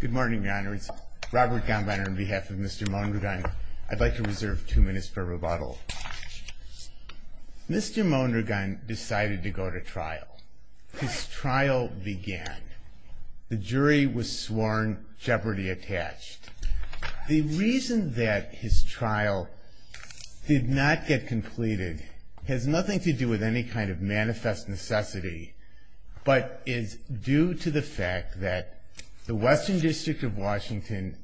Good morning, your honor. It's Robert Gambiner on behalf of Mr. Mondragon. I'd like to reserve two minutes for rebuttal. Mr. Mondragon decided to go to trial. His trial began. The jury was sworn, jeopardy attached. The reason that his trial did not get completed has nothing to do with any kind of manifest necessity, but is due to the fact that the Western District of Washington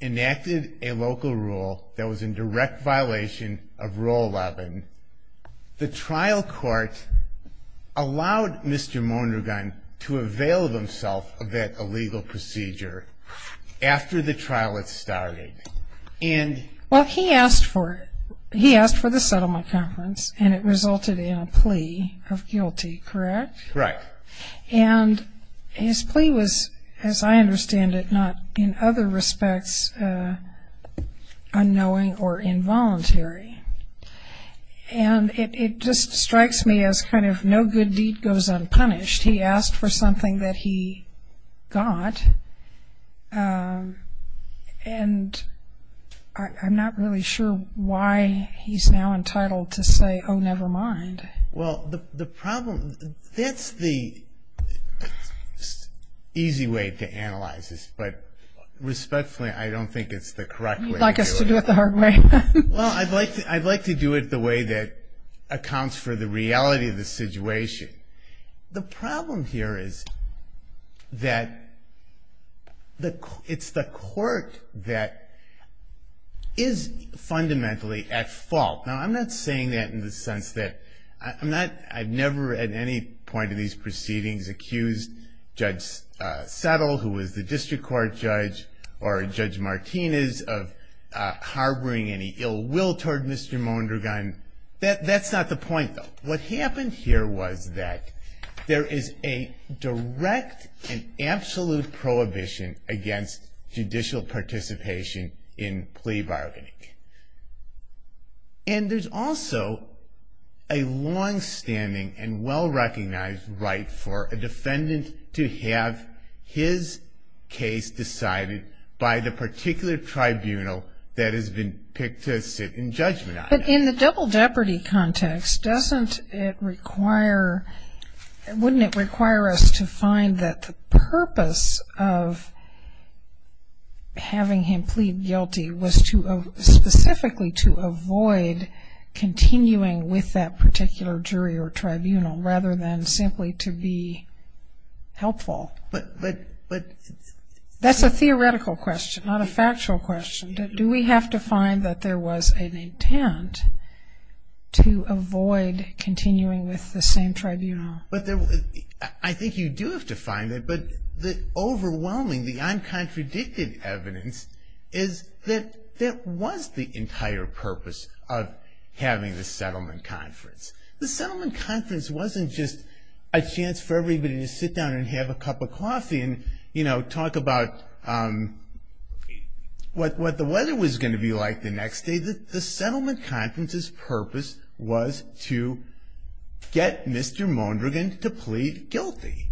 enacted a local rule that was in direct violation of Rule 11. The trial court allowed Mr. Mondragon to avail himself of that illegal procedure after the trial had started. Well, he asked for the settlement conference and it resulted in a plea of guilty, correct? Right. And his plea was, as I understand it, not in other respects unknowing or involuntary. And it just strikes me as kind of no good deed goes unpunished. He asked for something that he got and I'm not really sure why he's now entitled to say, oh, never mind. Well, the problem, that's the easy way to analyze this, but respectfully, I don't think it's the correct way to do it. You'd like us to do it the hard way. Well, I'd like to do it the way that accounts for the reality of the situation. The problem here is that it's the court that is fundamentally at fault. Now, I'm not saying that in the sense that I've never at any point in these proceedings accused Judge Settle, who is the district court judge, or Judge Martinez of harboring any ill will toward Mr. Mondragon. That's not the point, though. What happened here was that there is a direct and absolute prohibition against judicial participation in plea bargaining. And there's also a longstanding and well-recognized right for a defendant to have his case decided by the particular tribunal that has been picked to sit in judgment on. But in the double jeopardy context, doesn't it require, wouldn't it require us to find that the purpose of having him plead guilty was specifically to avoid continuing with that particular jury or tribunal rather than simply to be helpful? That's a theoretical question, not a factual question. Do we have to find that there was an intent to avoid continuing with the same tribunal? I think you do have to find that. But the overwhelming, the uncontradicted evidence is that there was the entire purpose of having the settlement conference. The settlement conference wasn't just a chance for everybody to sit down and have a cup of coffee and, you know, talk about what the weather was going to be like the next day. The settlement conference's purpose was to get Mr. Mondragon to plead guilty.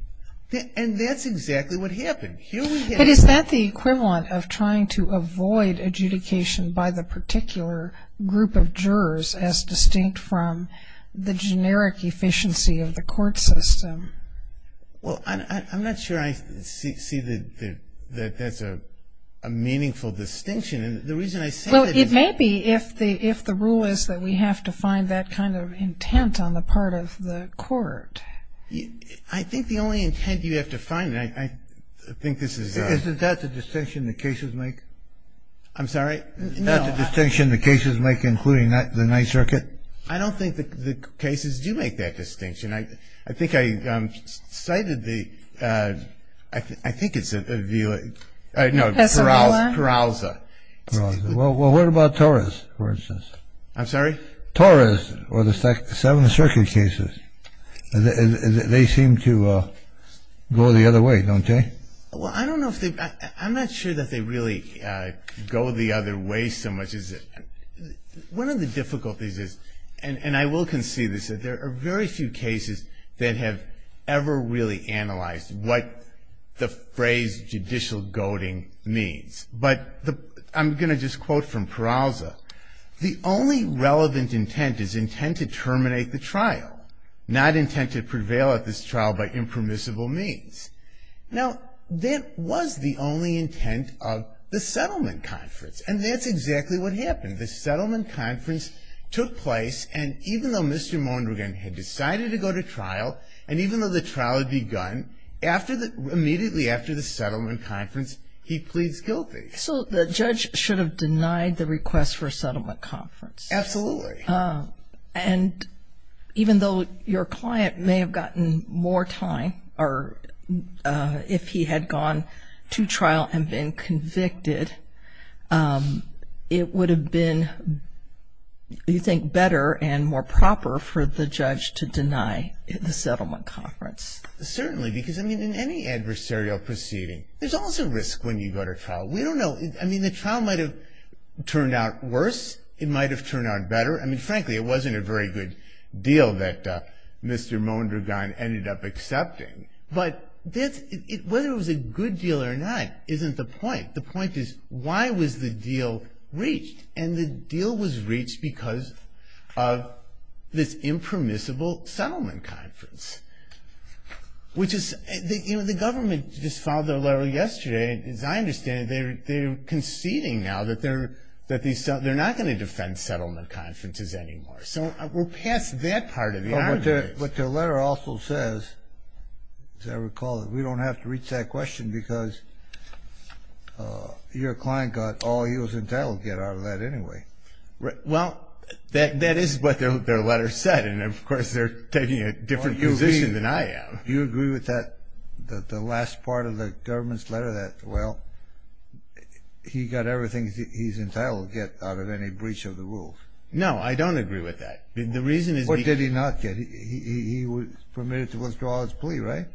And that's exactly what happened. But is that the equivalent of trying to avoid adjudication by the particular group of jurors as distinct from the generic efficiency of the court system? Well, I'm not sure I see that that's a meaningful distinction. Well, it may be if the rule is that we have to find that kind of intent on the part of the court. I think the only intent you have to find, and I think this is a... Isn't that the distinction the cases make? I'm sorry? Isn't that the distinction the cases make, including the Ninth Circuit? I don't think the cases do make that distinction. I think I cited the... I think it's a... No, Peralza. Well, what about Torres, for instance? I'm sorry? Torres or the Seventh Circuit cases. They seem to go the other way, don't they? Well, I don't know if they... I'm not sure that they really go the other way so much as... One of the difficulties is, and I will concede this, that there are very few cases that have ever really analyzed what the phrase judicial goading means. But I'm going to just quote from Peralza. The only relevant intent is intent to terminate the trial, not intent to prevail at this trial by impermissible means. Now, that was the only intent of the settlement conference, and that's exactly what happened. The settlement conference took place, and even though Mr. Mondragon had decided to go to trial, and even though the trial had begun, immediately after the settlement conference he pleads guilty. So the judge should have denied the request for a settlement conference. Absolutely. And even though your client may have gotten more time, or if he had gone to trial and been convicted, it would have been, you think, better and more proper for the judge to deny the settlement conference. Certainly, because, I mean, in any adversarial proceeding, there's also risk when you go to trial. We don't know. I mean, the trial might have turned out worse. It might have turned out better. I mean, frankly, it wasn't a very good deal that Mr. Mondragon ended up accepting. But whether it was a good deal or not isn't the point. The point is, why was the deal reached? And the deal was reached because of this impermissible settlement conference, which is, you know, the government just filed their letter yesterday. As I understand it, they're conceding now that they're not going to defend settlement conferences anymore. So we're past that part of the argument. What their letter also says, as I recall it, is we don't have to reach that question because your client got all he was entitled to get out of that anyway. Well, that is what their letter said, and, of course, they're taking a different position than I am. You agree with that, the last part of the government's letter that, well, he got everything he's entitled to get out of any breach of the rules? No, I don't agree with that. The reason is the – What did he not get? He was permitted to withdraw his plea, right?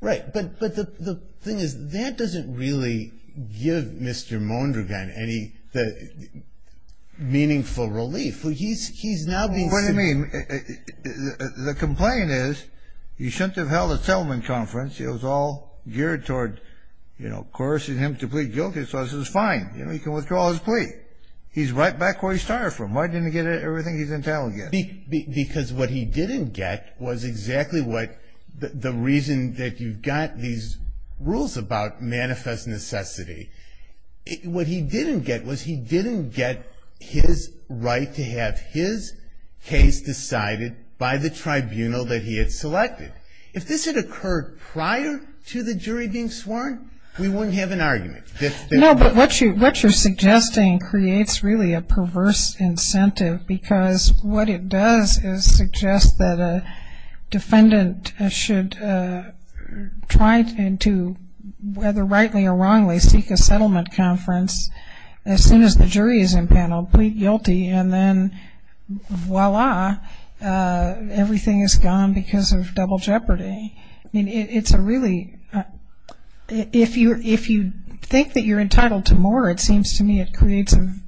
Right. But the thing is that doesn't really give Mr. Mondragon any meaningful relief. He's now being – What do you mean? The complaint is he shouldn't have held a settlement conference. It was all geared toward, you know, coercing him to plead guilty. So this is fine. You know, he can withdraw his plea. He's right back where he started from. Why didn't he get everything he's entitled to get? Because what he didn't get was exactly what – the reason that you've got these rules about manifest necessity. What he didn't get was he didn't get his right to have his case decided by the tribunal that he had selected. If this had occurred prior to the jury being sworn, we wouldn't have an argument. No, but what you're suggesting creates really a perverse incentive because what it does is suggest that a defendant should try to, whether rightly or wrongly, seek a settlement conference as soon as the jury is impaneled, plead guilty, and then voila, everything is gone because of double jeopardy. I mean, it's a really – if you think that you're entitled to more, it seems to me it creates an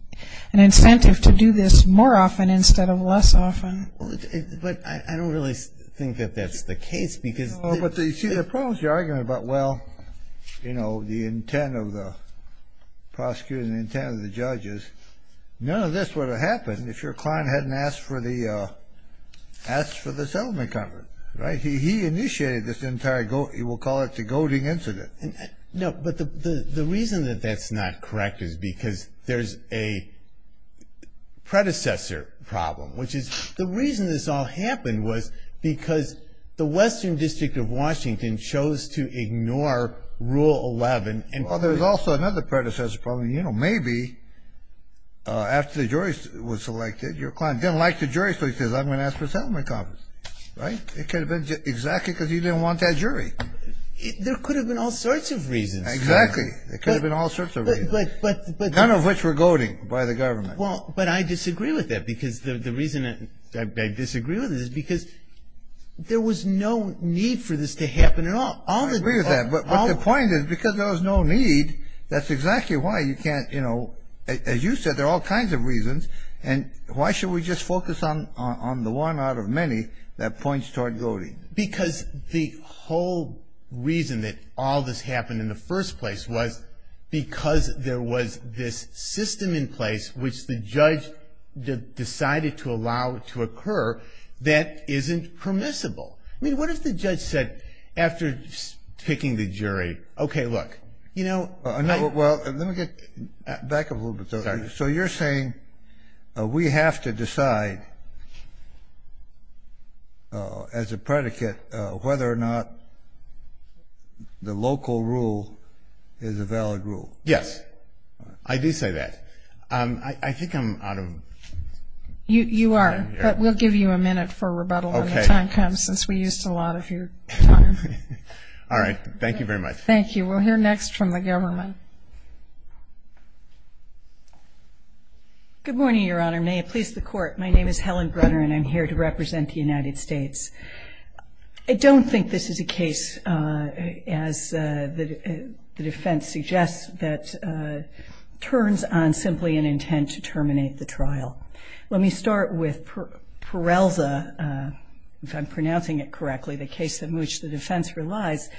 incentive to do this more often instead of less often. But I don't really think that that's the case because – But, you see, the problem is your argument about, well, you know, the intent of the prosecutors and the intent of the judges. None of this would have happened if your client hadn't asked for the settlement conference, right? He initiated this entire – we'll call it the goading incident. No, but the reason that that's not correct is because there's a predecessor problem, which is the reason this all happened was because the Western District of Washington chose to ignore Rule 11 and – Well, there's also another predecessor problem. You know, maybe after the jury was selected, your client didn't like the jury, so he says, I'm going to ask for a settlement conference, right? It could have been exactly because he didn't want that jury. There could have been all sorts of reasons. Exactly. There could have been all sorts of reasons, none of which were goading by the government. Well, but I disagree with that because the reason I disagree with it is because there was no need for this to happen at all. I agree with that. But the point is because there was no need, that's exactly why you can't – you know, as you said, there are all kinds of reasons, and why should we just focus on the one out of many that points toward goading? Because the whole reason that all this happened in the first place was because there was this system in place which the judge decided to allow to occur that isn't permissible. I mean, what if the judge said after picking the jury, okay, look, you know – Well, let me get back a little bit. Sorry. So you're saying we have to decide as a predicate whether or not the local rule is a valid rule? Yes. I do say that. I think I'm out of time here. You are, but we'll give you a minute for rebuttal when the time comes, since we used a lot of your time. All right. Thank you very much. Thank you. We'll hear next from the government. Good morning, Your Honor. May it please the Court. My name is Helen Brunner, and I'm here to represent the United States. I don't think this is a case, as the defense suggests, that turns on simply an intent to terminate the trial. Let me start with Perelza, if I'm pronouncing it correctly, the case in which the defense relies.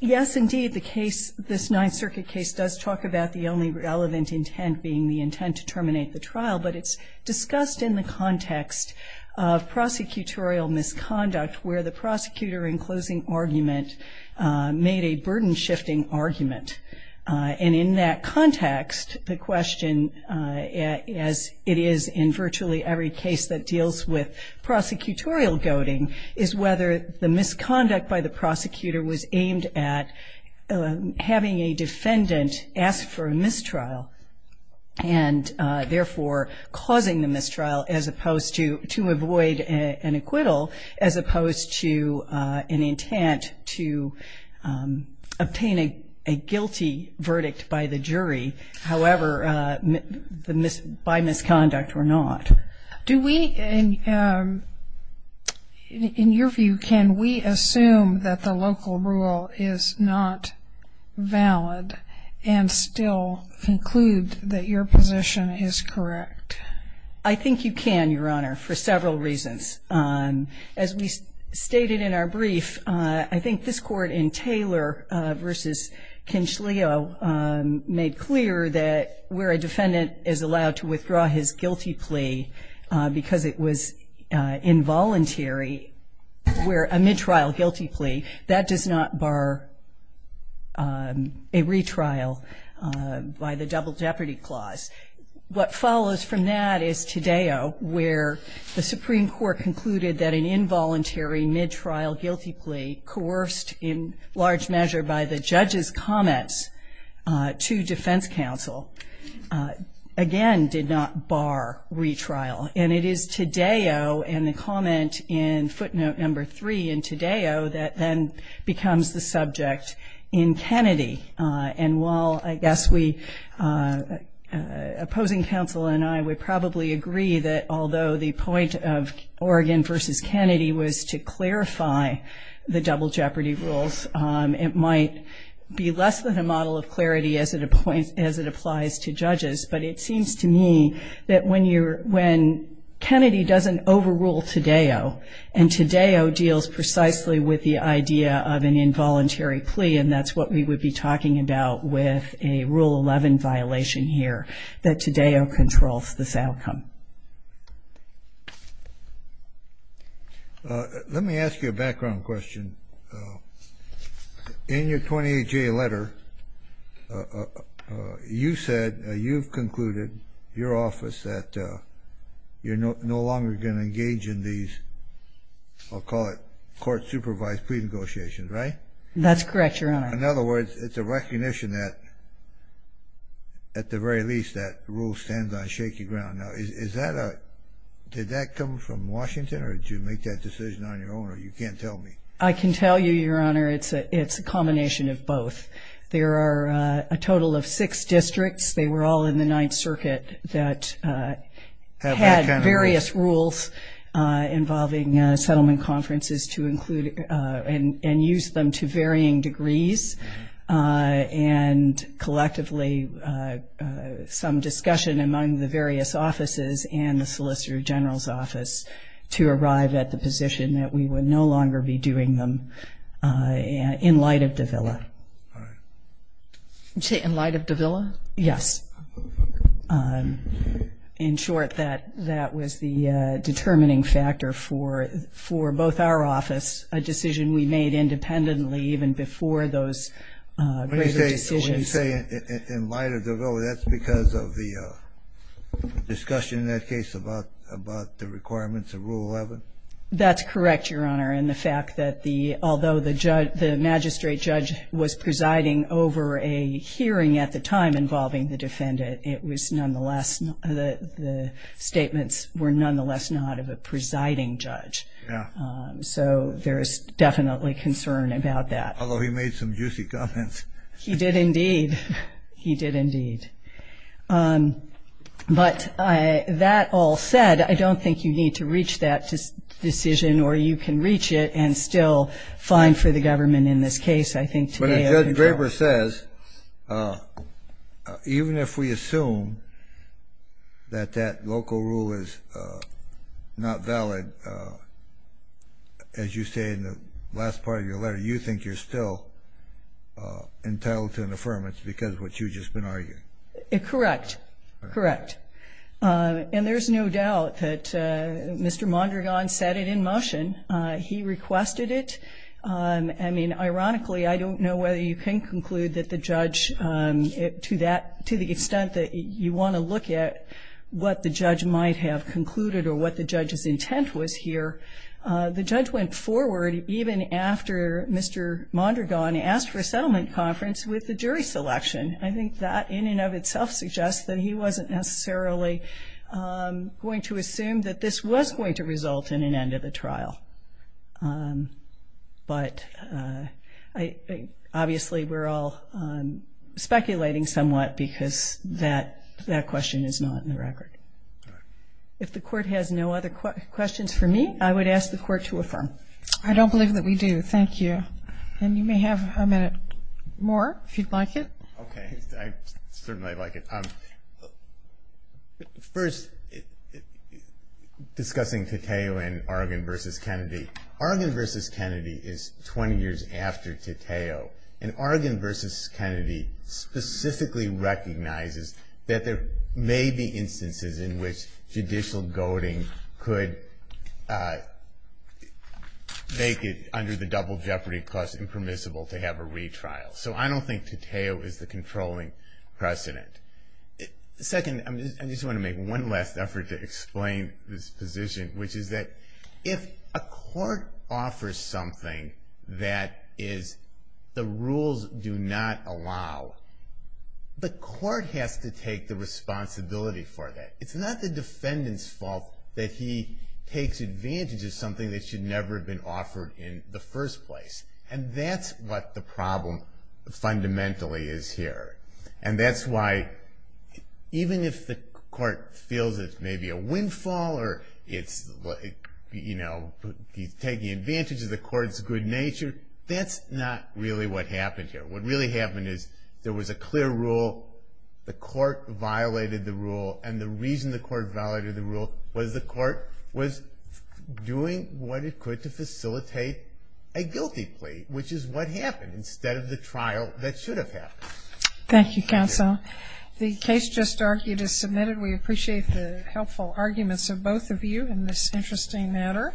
Yes, indeed, the case, this Ninth Circuit case, does talk about the only relevant intent being the intent to terminate the trial, but it's discussed in the context of prosecutorial misconduct, where the prosecutor in closing argument made a burden-shifting argument. And in that context, the question, as it is in virtually every case that deals with prosecutorial goading, is whether the misconduct by the prosecutor was aimed at having a defendant ask for a mistrial and therefore causing the mistrial as opposed to avoid an acquittal, as opposed to an intent to obtain a guilty verdict by the jury, however, by misconduct or not. Do we, in your view, can we assume that the local rule is not valid and still conclude that your position is correct? I think you can, Your Honor, for several reasons. As we stated in our brief, I think this court in Taylor v. Kinshleo made clear that where a defendant is allowed to withdraw his guilty plea because it was involuntary, where a mid-trial guilty plea, that does not bar a retrial by the double jeopardy clause. What follows from that is Tadeo, where the Supreme Court concluded that an involuntary mid-trial guilty plea, coerced in large measure by the judge's comments to defense counsel, again, did not bar retrial. And it is Tadeo and the comment in footnote number three in Tadeo that then becomes the subject in Kennedy. And while I guess we, opposing counsel and I, would probably agree that although the point of Oregon v. Kennedy was to clarify the double jeopardy rules, it might be less than a model of clarity as it applies to judges. But it seems to me that when Kennedy doesn't overrule Tadeo, and Tadeo deals precisely with the idea of an involuntary plea, and that's what we would be talking about with a Rule 11 violation here, that Tadeo controls this outcome. Let me ask you a background question. In your 28-J letter, you said, you've concluded, your office, that you're no longer going to engage in these, I'll call it, court-supervised plea negotiations, right? That's correct, Your Honor. In other words, it's a recognition that, at the very least, that rule stands on shaky ground. Now, is that a, did that come from Washington, or did you make that decision on your own, or you can't tell me? I can tell you, Your Honor, it's a combination of both. There are a total of six districts, they were all in the Ninth Circuit, that had various rules involving settlement conferences to include and use them to varying degrees, and collectively some discussion among the various offices and the Solicitor General's office to arrive at the position that we would no longer be doing them in light of the Villa. You say in light of the Villa? Yes. In short, that was the determining factor for both our offices, a decision we made independently even before those greater decisions. When you say in light of the Villa, that's because of the discussion in that case about the requirements of Rule 11? That's correct, Your Honor, and the fact that although the magistrate judge was presiding over a hearing at the time involving the defendant, it was nonetheless, the statements were nonetheless not of a presiding judge. Yeah. So there is definitely concern about that. Although he made some juicy comments. He did indeed. He did indeed. But that all said, I don't think you need to reach that decision, or you can reach it and still find for the government in this case, I think, today. But as Judge Draper says, even if we assume that that local rule is not valid, as you say in the last part of your letter, you think you're still entitled to an affirmation because of what you've just been arguing? Correct. Correct. And there's no doubt that Mr. Mondragon set it in motion. He requested it. I mean, ironically, I don't know whether you can conclude that the judge, to the extent that you want to look at what the judge might have concluded or what the judge's intent was here, the judge went forward even after Mr. Mondragon asked for a settlement conference with the jury selection. I think that in and of itself suggests that he wasn't necessarily going to assume that this was going to result in an end of the trial. But obviously we're all speculating somewhat because that question is not in the record. If the court has no other questions for me, I would ask the court to affirm. I don't believe that we do. Thank you. And you may have a minute more if you'd like it. Okay. I certainly would like it. First, discussing Tateo and Argonne v. Kennedy. Argonne v. Kennedy is 20 years after Tateo, and Argonne v. Kennedy specifically recognizes that there may be instances in which judicial goading could make it, under the double jeopardy clause, impermissible to have a retrial. So I don't think Tateo is the controlling precedent. Second, I just want to make one last effort to explain this position, which is that if a court offers something that is the rules do not allow, the court has to take the responsibility for that. It's not the defendant's fault that he takes advantage of something that should never have been offered in the first place. And that's what the problem fundamentally is here. And that's why even if the court feels it's maybe a windfall or it's, you know, he's taking advantage of the court's good nature, that's not really what happened here. What really happened is there was a clear rule, the court violated the rule, and the reason the court violated the rule was the court was doing what it could to facilitate a guilty plea, which is what happened instead of the trial that should have happened. Thank you, counsel. The case just argued is submitted. We appreciate the helpful arguments of both of you in this interesting matter.